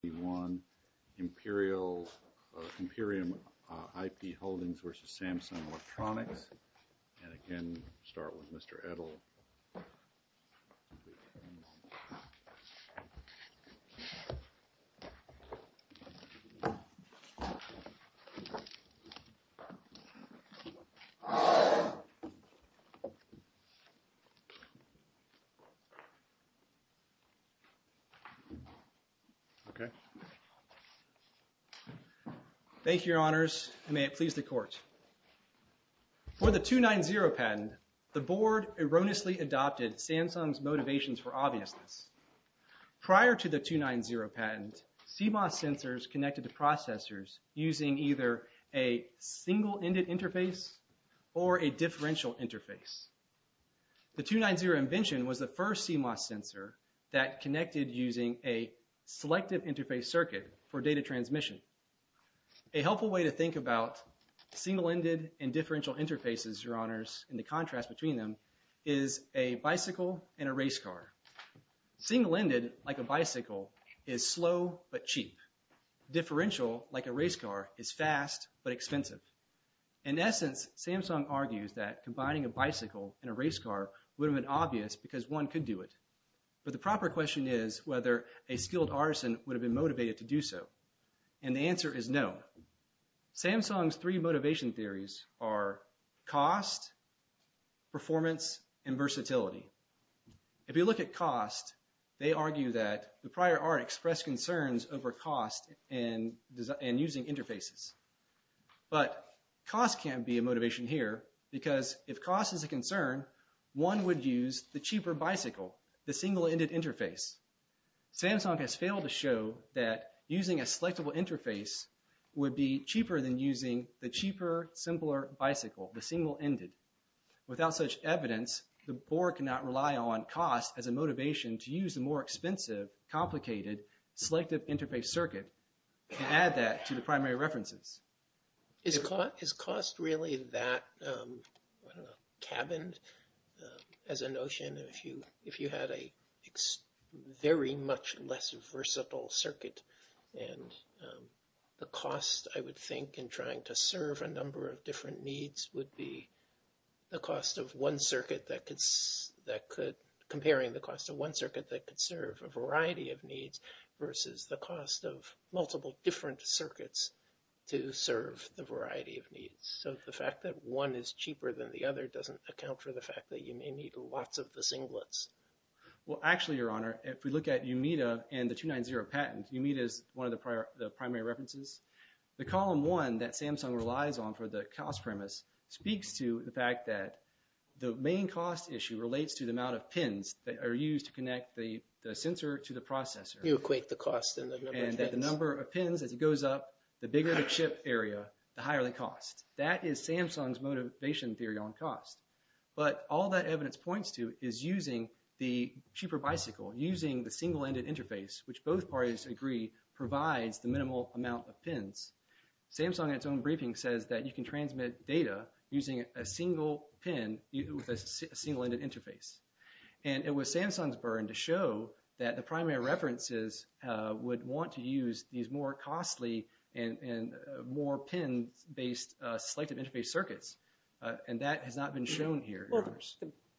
... Imperial, Imperium IP Holdings v. Samsung Electronics, and again, start with Mr. Edel. Thank you, Your Honors, and may it please the Court. For the 2.9.0 patent, the Board erroneously adopted Samsung's motivations for obviousness. Prior to the 2.9.0 patent, CMOS sensors connected to processors using either a single-ended interface or a differential interface. The 2.9.0 invention was the first CMOS sensor that connected using a selective interface circuit for data transmission. A helpful way to think about single-ended and differential interfaces, Your Honors, and the contrast between them is a bicycle and a race car. Single-ended, like a bicycle, is slow but cheap. Differential, like a race car, is fast but expensive. In essence, Samsung argues that combining a bicycle and a race car would have been obvious because one could do it. But the proper question is whether a skilled artisan would have been motivated to do so. And the answer is no. Samsung's three motivation theories are cost, performance, and versatility. If you look at cost, they argue that the prior art expressed concerns over cost and using interfaces. But cost can't be a motivation here because if cost is a concern, one would use the cheaper bicycle, the single-ended interface. Samsung has failed to show that using a selectable interface would be cheaper than using the cheaper, simpler bicycle, the single-ended. Without such evidence, the board cannot rely on cost as a motivation to use the more expensive, complicated selective interface circuit and add that to the primary references. Is cost really that, I don't know, cabined as a notion? If you had a very much less versatile circuit and the cost, I would think, in trying to serve a number of different needs would be the cost of one circuit that could, comparing the cost of one circuit that could serve a variety of needs versus the cost of multiple different circuits to serve the variety of needs. So the fact that one is cheaper than the other doesn't account for the fact that you may need lots of the singlets. Well, actually, Your Honor, if we look at Yumita and the 290 patent, Yumita is one of the primary references. The column one that Samsung relies on for the cost premise speaks to the fact that the main cost issue relates to the amount of pins that are used to connect the sensor to the processor. You equate the cost and the number of pins. And that the number of pins, as it goes up, the bigger the chip area, the higher the cost. That is Samsung's motivation theory on cost. But all that evidence points to is using the cheaper bicycle, using the single-ended interface, which both parties agree provides the minimal amount of pins. Samsung, in its own briefing, says that you can transmit data using a single pin with a single-ended interface. And it was Samsung's burn to show that the primary references would want to use these more costly and more pin-based selective interface circuits. And that has not been shown here. Well,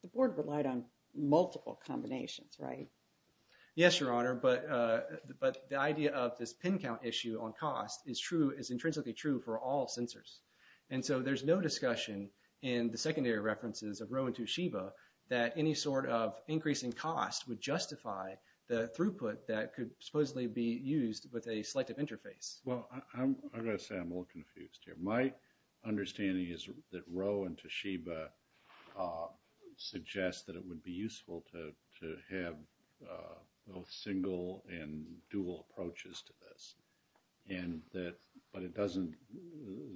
the board relied on multiple combinations, right? Yes, Your Honor, but the idea of this pin count issue on cost is true, is intrinsically true for all sensors. And so there's no discussion in the secondary references of Rho and Toshiba that any sort of increase in cost would justify the throughput that could supposedly be used with a selective interface. Well, I've got to say I'm a little confused here. My understanding is that Rho and Toshiba suggest that it would be useful to have both single and dual approaches to this. But it doesn't,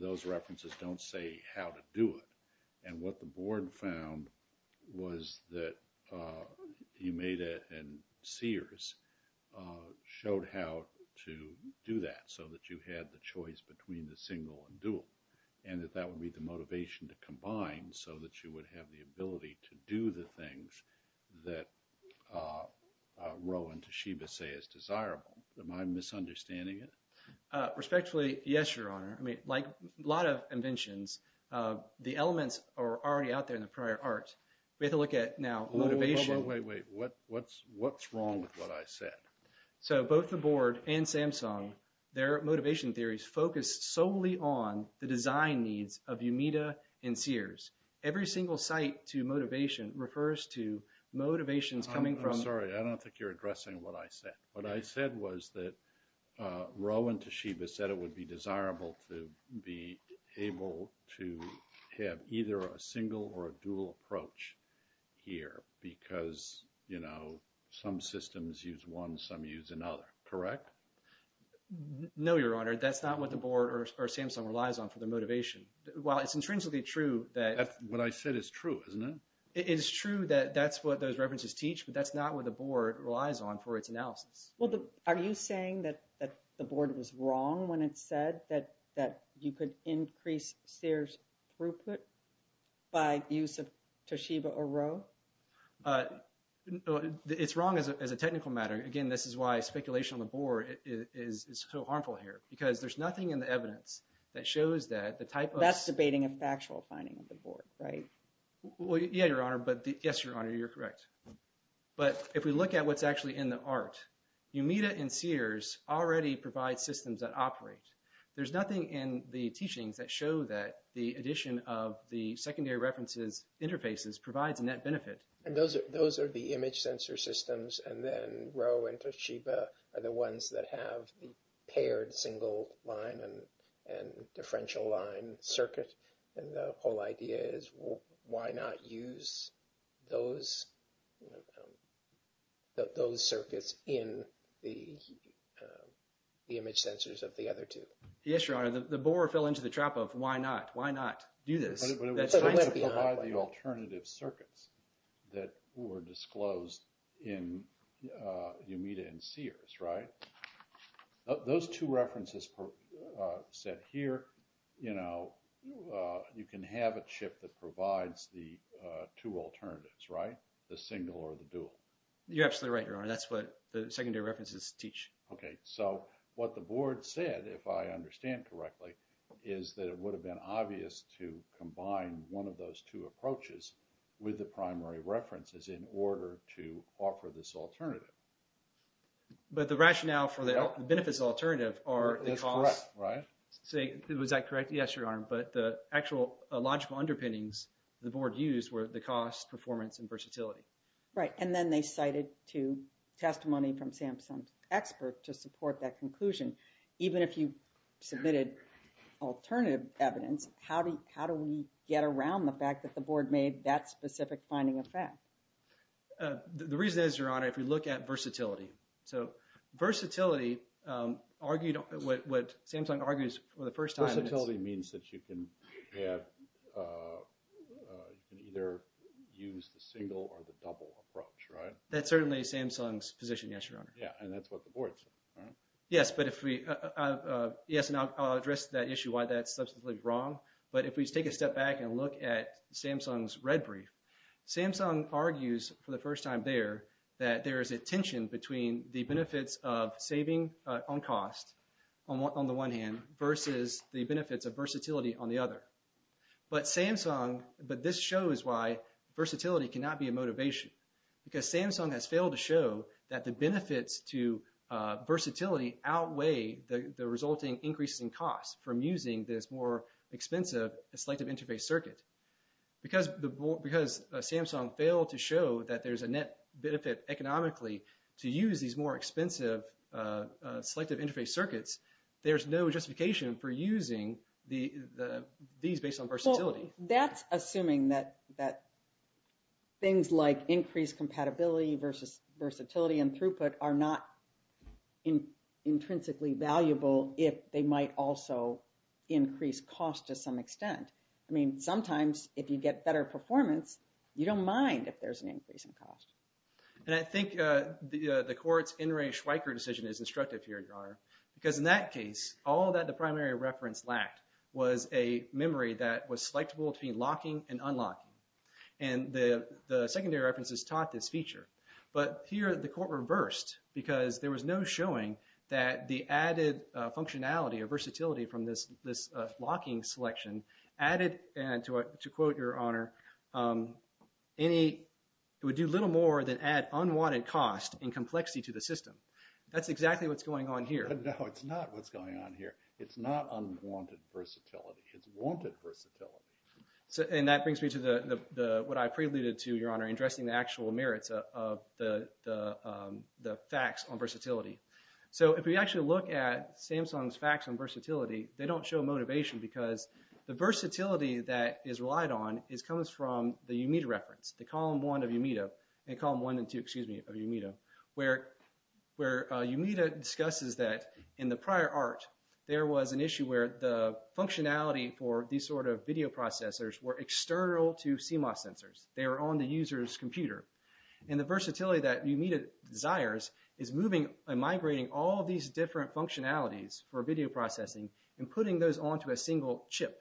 those references don't say how to do it. And what the board found was that Yamada and Sears showed how to do that so that you had the choice between the single and dual. And that that would be the motivation to combine so that you would have the ability to do the things that Rho and Toshiba say is desirable. Am I misunderstanding it? Your Honor, I mean, like a lot of inventions, the elements are already out there in the prior art. We have to look at now motivation. Wait, wait, wait. What's wrong with what I said? So both the board and Samsung, their motivation theories focus solely on the design needs of Yamada and Sears. Every single site to motivation refers to motivations coming from... I'm sorry. I don't think you're addressing what I said. What I said was that Rho and Toshiba said it would be desirable to be able to have either a single or a dual approach here because, you know, some systems use one, some use another. Correct? No, Your Honor. That's not what the board or Samsung relies on for the motivation. While it's intrinsically true that... What I said is true, isn't it? It is true that that's what those references teach, but that's not what the board relies on for its analysis. Well, are you saying that the board was wrong when it said that you could increase Sears' throughput by use of Toshiba or Rho? It's wrong as a technical matter. Again, this is why speculation on the board is so harmful here because there's nothing in the evidence that shows that the type of... That's debating a factual finding of the board, right? Yeah, Your Honor, but... Yes, Your Honor, you're correct. But if we look at what's actually in the art, Yumida and Sears already provide systems that operate. There's nothing in the teachings that show that the addition of the secondary references interfaces provides a net benefit. And those are the image sensor systems, and then Rho and Toshiba are the ones that have the paired single line and differential line circuit. And the whole idea is why not use those circuits in the image sensors of the other two? Yes, Your Honor, the board fell into the trap of why not? Why not do this? But it would still provide the alternative circuits that were disclosed in Yumida and Sears, right? Those two references set here, you know, you can have a chip that provides the two alternatives, right? The single or the dual. You're absolutely right, Your Honor. That's what the secondary references teach. Okay, so what the board said, if I understand correctly, is that it would have been obvious to combine one of those two approaches with the primary references in order to offer this alternative. But the rationale for the benefits alternative are... That's correct, right? Was I correct? Yes, Your Honor. But the actual logical underpinnings the board used were the cost, performance, and versatility. Right, and then they cited to testimony from SAMHSA's expert to support that conclusion. Even if you submitted alternative evidence, how do we get around the fact that the board made that specific finding a fact? The reason is, Your Honor, if you look at versatility. So versatility argued what SAMHSA argues for the first time... You can either use the single or the double approach, right? That's certainly SAMHSA's position, yes, Your Honor. Yeah, and that's what the board said, right? Yes, but if we... Yes, and I'll address that issue why that's substantially wrong. But if we take a step back and look at SAMHSA's red brief, SAMHSA argues for the first time there that there is a tension between the benefits of saving on cost on the one hand versus the benefits of versatility on the other. But this shows why versatility cannot be a motivation. Because SAMHSA has failed to show that the benefits to versatility outweigh the resulting increase in cost from using this more expensive selective interface circuit. Because Samsung failed to show that there's a net benefit economically to use these more expensive selective interface circuits, there's no justification for using these based on versatility. Well, that's assuming that things like increased compatibility versus versatility and throughput are not intrinsically valuable if they might also increase cost to some extent. I mean, sometimes if you get better performance, you don't mind if there's an increase in cost. And I think the court's In re Schweiker decision is instructive here, Your Honor. Because in that case, all that the primary reference lacked was a memory that was selectable between locking and unlocking. And the secondary references taught this feature. But here the court reversed because there was no showing that the added functionality or versatility from this locking selection added, to quote Your Honor, any – it would do little more than add unwanted cost and complexity to the system. That's exactly what's going on here. No, it's not what's going on here. It's not unwanted versatility. It's wanted versatility. And that brings me to what I preluded to, Your Honor, addressing the actual merits of the facts on versatility. So if we actually look at Samsung's facts on versatility, they don't show motivation because the versatility that is relied on comes from the Yumita reference, the column one of Yumita, and column one and two, excuse me, of Yumita, where Yumita discusses that in the prior art there was an issue where the functionality for these sort of video processors were external to CMOS sensors. They were on the user's computer. And the versatility that Yumita desires is moving and migrating all these different functionalities for video processing and putting those onto a single chip.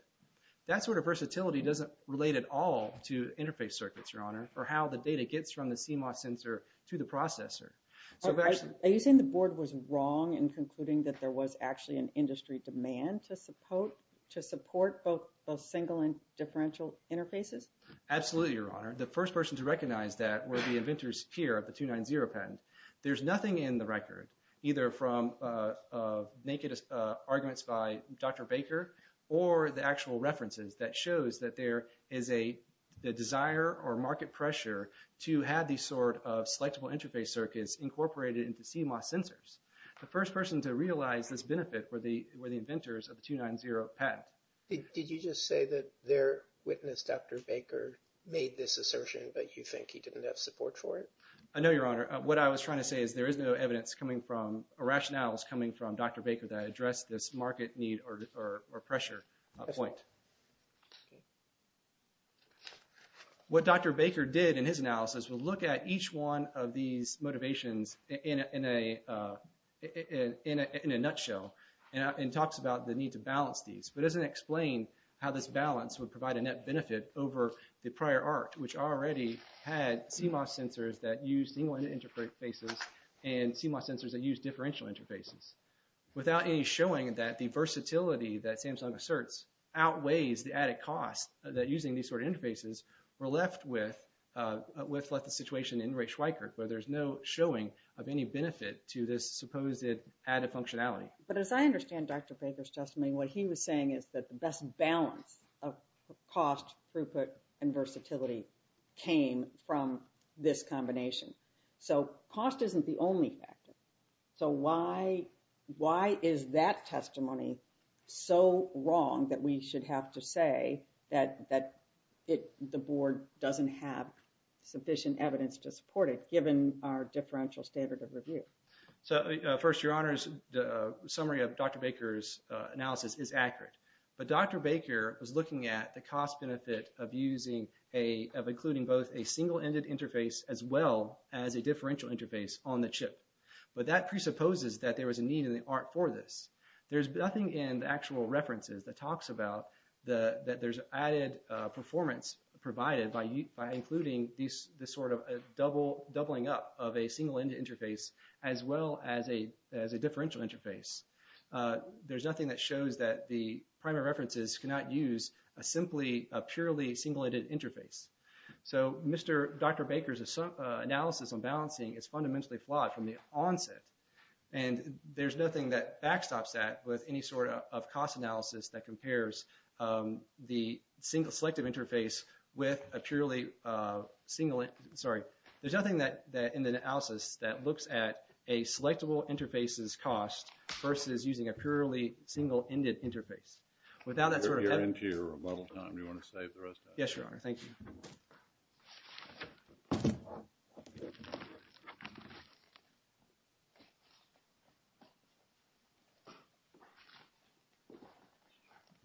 That sort of versatility doesn't relate at all to interface circuits, Your Honor, or how the data gets from the CMOS sensor to the processor. Are you saying the board was wrong in concluding that there was actually an industry demand to support both single and differential interfaces? Absolutely, Your Honor. The first person to recognize that were the inventors here of the 290 patent. There's nothing in the record, either from naked arguments by Dr. Baker or the actual references, that shows that there is a desire or market pressure to have these sort of selectable interface circuits incorporated into CMOS sensors. The first person to realize this benefit were the inventors of the 290 patent. Did you just say that their witness, Dr. Baker, made this assertion that you think he didn't have support for it? I know, Your Honor. What I was trying to say is there is no evidence coming from or rationales coming from Dr. Baker that addressed this market need or pressure point. What Dr. Baker did in his analysis was look at each one of these motivations in a nutshell and talks about the need to balance these. But it doesn't explain how this balance would provide a net benefit over the prior art, which already had CMOS sensors that used single interfaces and CMOS sensors that used differential interfaces. Without any showing that the versatility that Samsung asserts outweighs the added cost that using these sort of interfaces were left with the situation in Ray Schweikart, where there's no showing of any benefit to this supposed added functionality. But as I understand Dr. Baker's testimony, what he was saying is that the best balance of cost, throughput, and versatility came from this combination. So, cost isn't the only factor. So, why is that testimony so wrong that we should have to say that the board doesn't have sufficient evidence to support it given our differential standard of review? So, first, your honors, the summary of Dr. Baker's analysis is accurate. But Dr. Baker was looking at the cost benefit of including both a single-ended interface as well as a differential interface on the chip. But that presupposes that there was a need in the art for this. There's nothing in the actual references that talks about that there's added performance provided by including this sort of doubling up of a single-ended interface as well as a differential interface. There's nothing that shows that the primary references cannot use a purely single-ended interface. So, Dr. Baker's analysis on balancing is fundamentally flawed from the onset. And there's nothing that backstops that with any sort of cost analysis that compares the single-selective interface with a purely single-ended. Sorry, there's nothing in the analysis that looks at a selectable interface's cost versus using a purely single-ended interface. Without that sort of evidence... We're getting to your rebuttal time. Do you want to save the rest of it? Yes, your honor. Thank you.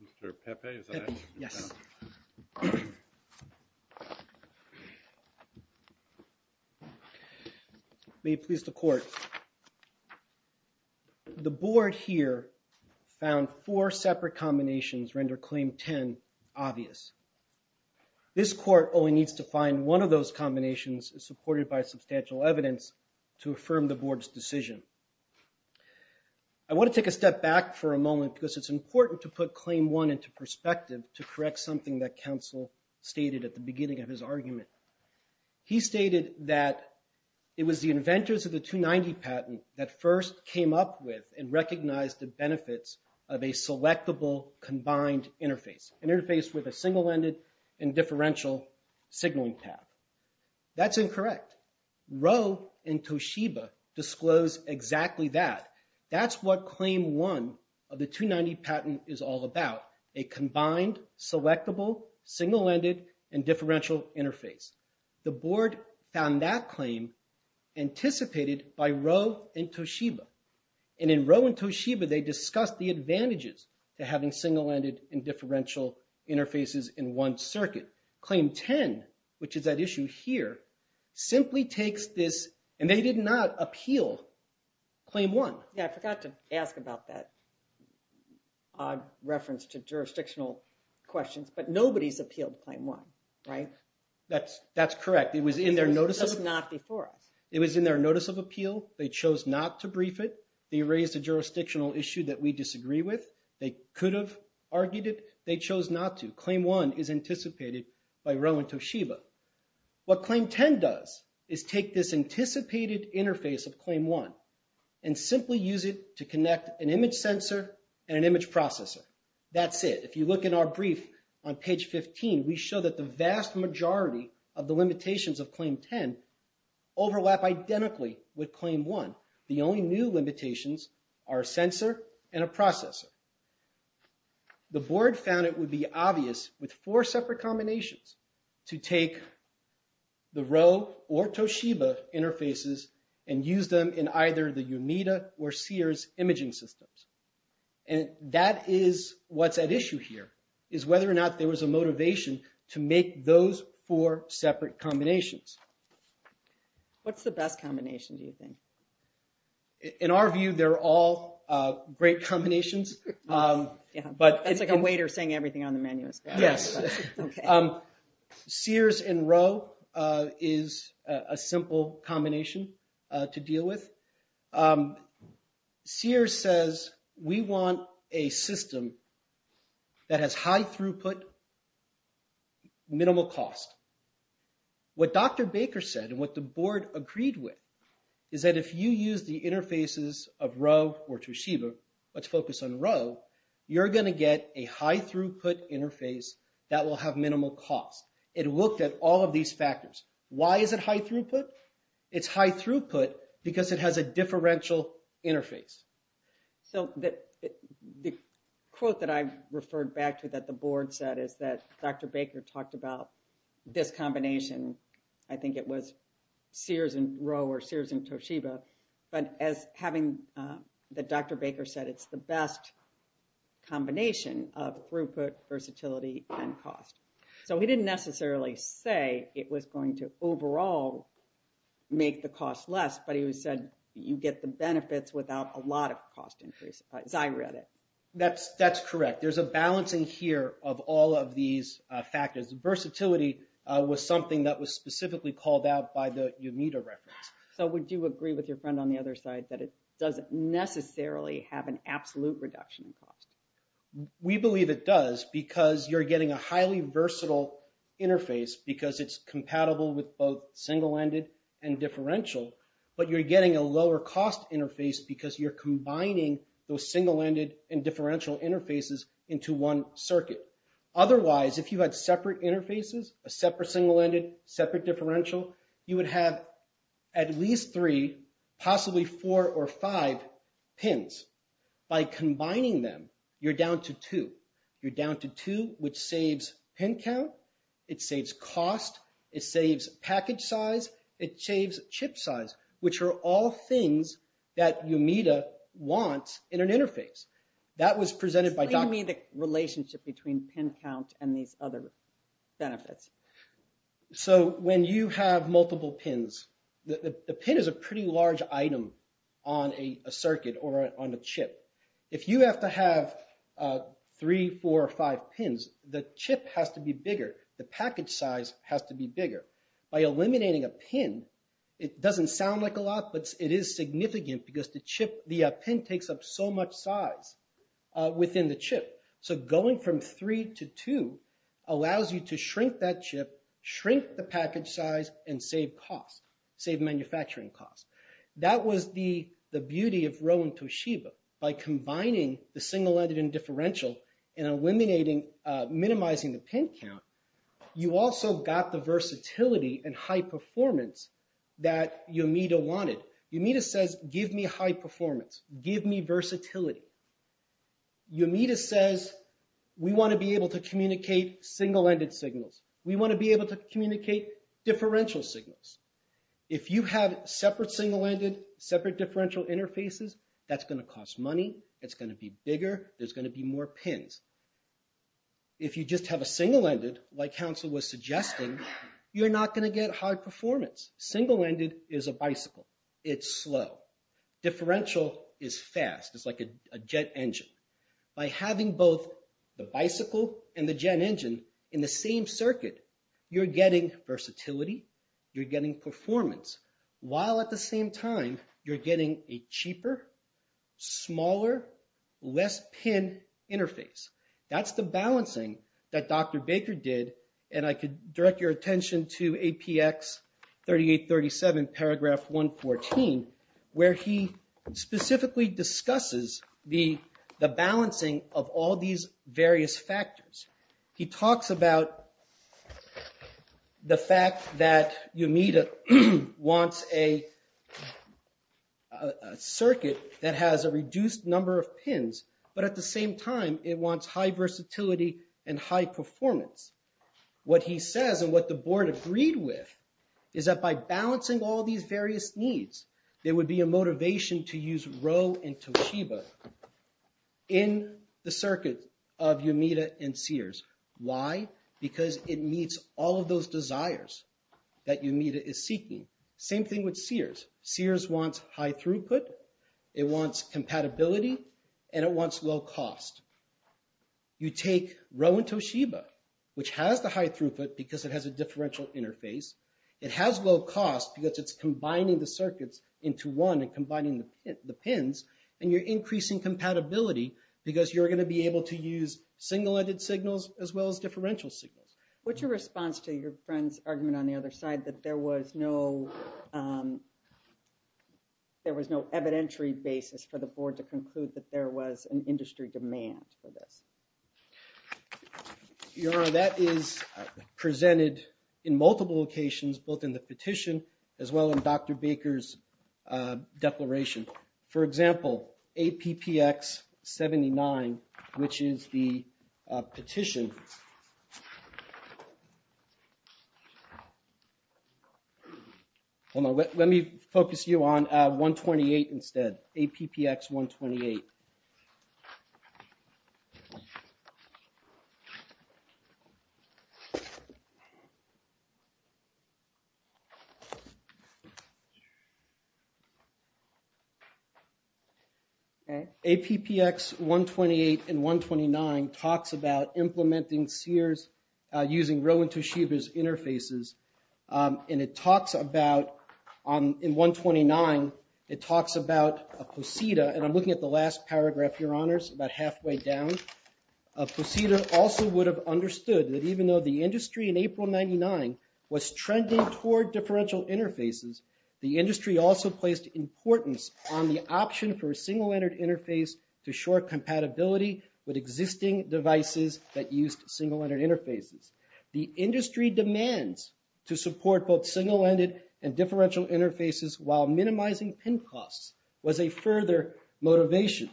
Mr. Pepe, is that it? Yes. May it please the court. The board here found four separate combinations render Claim 10 obvious. This court only needs to find one of those combinations supported by substantial evidence to affirm the board's decision. I want to take a step back for a moment because it's important to put Claim 1 into perspective to correct something that counsel stated at the beginning of his argument. He stated that it was the inventors of the 290 patent that first came up with and recognized the benefits of a selectable combined interface. An interface with a single-ended and differential signaling path. That's incorrect. Roe and Toshiba disclosed exactly that. That's what Claim 1 of the 290 patent is all about. A combined, selectable, single-ended, and differential interface. The board found that claim anticipated by Roe and Toshiba. And in Roe and Toshiba, they discussed the advantages to having single-ended and differential interfaces in one circuit. Claim 10, which is that issue here, simply takes this and they did not appeal Claim 1. Yeah, I forgot to ask about that reference to jurisdictional questions, but nobody's appealed Claim 1, right? That's correct. It was in their notice of appeal. They chose not to brief it. They raised a jurisdictional issue that we disagree with. They could have argued it. They chose not to. Claim 1 is anticipated by Roe and Toshiba. What Claim 10 does is take this anticipated interface of Claim 1 and simply use it to connect an image sensor and an image processor. That's it. If you look in our brief on page 15, we show that the vast majority of the limitations of Claim 10 overlap identically with Claim 1. The only new limitations are a sensor and a processor. The board found it would be obvious with four separate combinations to take the Roe or Toshiba interfaces and use them in either the UNITA or SIRS imaging systems. And that is what's at issue here, is whether or not there was a motivation to make those four separate combinations. What's the best combination, do you think? In our view, they're all great combinations. It's like a waiter saying everything on the menu. Yes. SIRS and Roe is a simple combination to deal with. SIRS says we want a system that has high throughput, minimal cost. What Dr. Baker said and what the board agreed with is that if you use the interfaces of Roe or Toshiba, let's focus on Roe, you're going to get a high throughput interface that will have minimal cost. It looked at all of these factors. Why is it high throughput? It's high throughput because it has a differential interface. So the quote that I've referred back to that the board said is that Dr. Baker talked about this combination. I think it was SIRS and Roe or SIRS and Toshiba. But as having Dr. Baker said, it's the best combination of throughput, versatility, and cost. So he didn't necessarily say it was going to overall make the cost less, but he said you get the benefits without a lot of cost increase, as I read it. That's correct. There's a balancing here of all of these factors. Versatility was something that was specifically called out by the UNITA reference. So would you agree with your friend on the other side that it doesn't necessarily have an absolute reduction in cost? We believe it does because you're getting a highly versatile interface because it's compatible with both single-ended and differential. But you're getting a lower cost interface because you're combining those single-ended and differential interfaces into one circuit. Otherwise, if you had separate interfaces, a separate single-ended, separate differential, you would have at least three, possibly four or five pins. By combining them, you're down to two. You're down to two, which saves pin count. It saves cost. It saves package size. It saves chip size, which are all things that UNITA wants in an interface. That was presented by Dr. – Explain to me the relationship between pin count and these other benefits. So when you have multiple pins, the pin is a pretty large item on a circuit or on a chip. If you have to have three, four or five pins, the chip has to be bigger. The package size has to be bigger. By eliminating a pin, it doesn't sound like a lot, but it is significant because the pin takes up so much size within the chip. So going from three to two allows you to shrink that chip, shrink the package size, and save cost, save manufacturing cost. That was the beauty of Rho and Toshiba. By combining the single-ended and differential and eliminating – minimizing the pin count, you also got the versatility and high performance that UNITA wanted. UNITA says, give me high performance. Give me versatility. UNITA says, we want to be able to communicate single-ended signals. We want to be able to communicate differential signals. If you have separate single-ended, separate differential interfaces, that's going to cost money. It's going to be bigger. There's going to be more pins. If you just have a single-ended, like Hansel was suggesting, you're not going to get high performance. Single-ended is a bicycle. It's slow. Differential is fast. It's like a jet engine. By having both the bicycle and the jet engine in the same circuit, you're getting versatility. You're getting performance, while at the same time, you're getting a cheaper, smaller, less pin interface. That's the balancing that Dr. Baker did, and I could direct your attention to APX 3837, paragraph 114, where he specifically discusses the balancing of all these various factors. He talks about the fact that UNITA wants a circuit that has a reduced number of pins, but at the same time, it wants high versatility and high performance. What he says, and what the board agreed with, is that by balancing all these various needs, there would be a motivation to use Rho and Toshiba in the circuit of UNITA and Sears. Why? Because it meets all of those desires that UNITA is seeking. Same thing with Sears. Sears wants high throughput, it wants compatibility, and it wants low cost. You take Rho and Toshiba, which has the high throughput because it has a differential interface, it has low cost because it's combining the circuits into one and combining the pins, and you're increasing compatibility because you're going to be able to use single-ended signals as well as differential signals. What's your response to your friend's argument on the other side that there was no evidentiary basis for the board to conclude that there was an industry demand for this? That is presented in multiple locations, both in the petition as well as Dr. Baker's declaration. For example, APPX79, which is the petition. Hold on, let me focus you on 128 instead, APPX128. APPX128 and 129 talks about implementing Sears using Rho and Toshiba's interfaces, and it talks about, in 129, it talks about a POSITA, and I'm looking at the last paragraph, Your Honors, about halfway down. A POSITA also would have understood that even though the industry in April 1999 was trending toward differential interfaces, the industry also placed importance on the option for a single-ended interface to shore compatibility with existing devices that used single-ended interfaces. The industry demands to support both single-ended and differential interfaces while minimizing pin costs was a further motivation.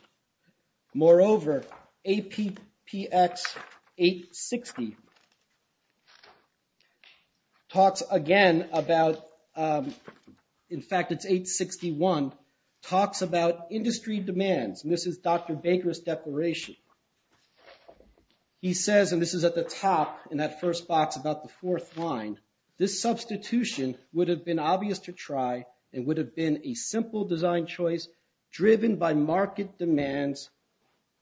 Moreover, APPX860 talks again about, in fact, it's 861, talks about industry demands, and this is Dr. Baker's declaration. He says, and this is at the top in that first box about the fourth line, this substitution would have been obvious to try and would have been a simple design choice driven by market demands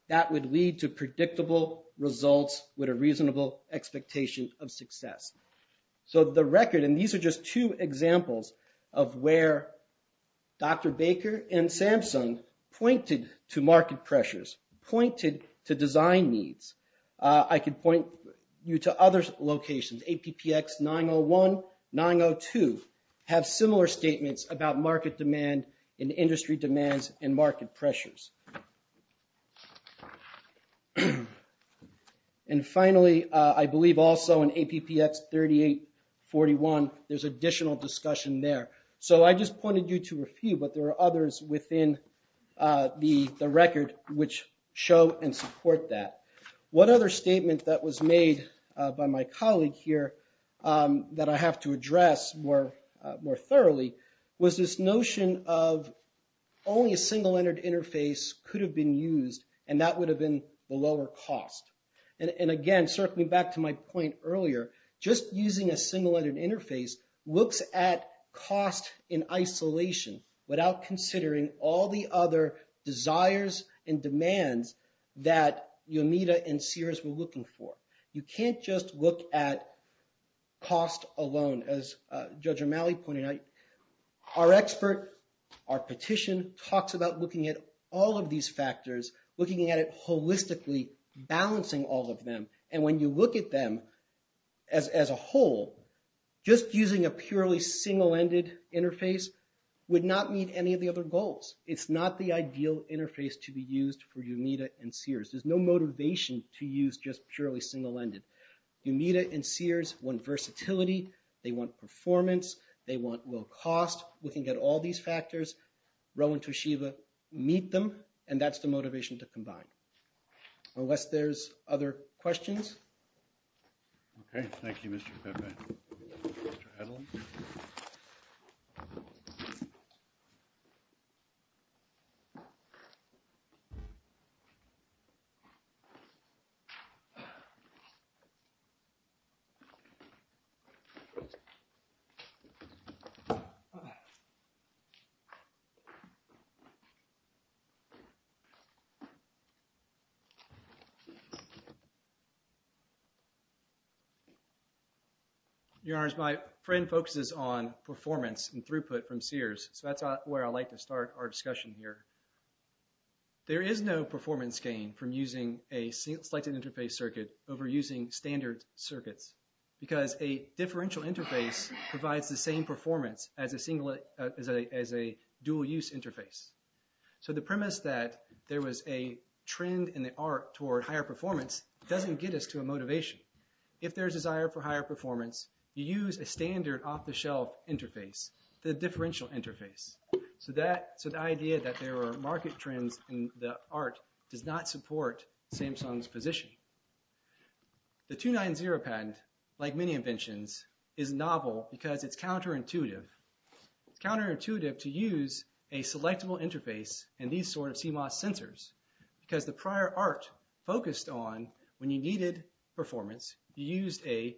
that would lead to predictable results with a reasonable expectation of success. So the record, and these are just two examples of where Dr. Baker and Samsung pointed to market pressures, pointed to design needs. I could point you to other locations. APPX901, 902 have similar statements about market demand and industry demands and market pressures. And finally, I believe also in APPX3841, there's additional discussion there. So I just pointed you to a few, but there are others within the record which show and support that. One other statement that was made by my colleague here that I have to address more thoroughly was this notion of only a single-ended interface could have been used, and that would have been the lower cost. And again, circling back to my point earlier, just using a single-ended interface looks at cost in isolation without considering all the other desires and demands that Yamita and Sears were looking for. You can't just look at cost alone. As Judge O'Malley pointed out, our expert, our petition, talks about looking at all of these factors, looking at it holistically, balancing all of them. And when you look at them as a whole, just using a purely single-ended interface would not meet any of the other goals. It's not the ideal interface to be used for Yamita and Sears. There's no motivation to use just purely single-ended. Yamita and Sears want versatility. They want performance. They want low cost. We can get all these factors, Rho and Toshiba, meet them, and that's the motivation to combine. Unless there's other questions? Okay, thank you, Mr. Pepe. Mr. Adelman? Your Honors, my friend focuses on performance and throughput from Sears, so that's where I'd like to start our discussion here. There is no performance gain from using a single-selected interface circuit over using standard circuits because a differential interface provides the same performance as a dual-use interface. So the premise that there was a trend in the art toward higher performance doesn't get us to a motivation. If there's a desire for higher performance, you use a standard off-the-shelf interface, the differential interface. So the idea that there are market trends in the art does not support Samsung's position. The 2.9.0 patent, like many inventions, is novel because it's counterintuitive. It's counterintuitive to use a selectable interface in these sort of CMOS sensors because the prior art focused on when you needed performance, you used a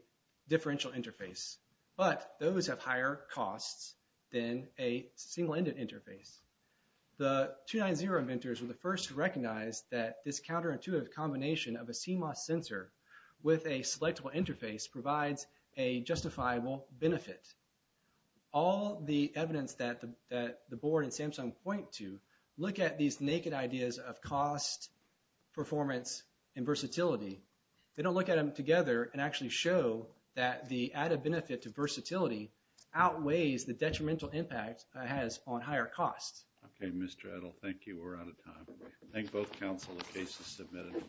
differential interface. But those have higher costs than a single-ended interface. The 2.9.0 inventors were the first to recognize that this counterintuitive combination of a CMOS sensor with a selectable interface provides a justifiable benefit. All the evidence that the board and Samsung point to look at these naked ideas of cost, performance, and versatility. They don't look at them together and actually show that the added benefit to versatility outweighs the detrimental impact it has on higher costs. Okay, Mr. Edel. Thank you. We're out of time. Thank both counsel. The case is submitted.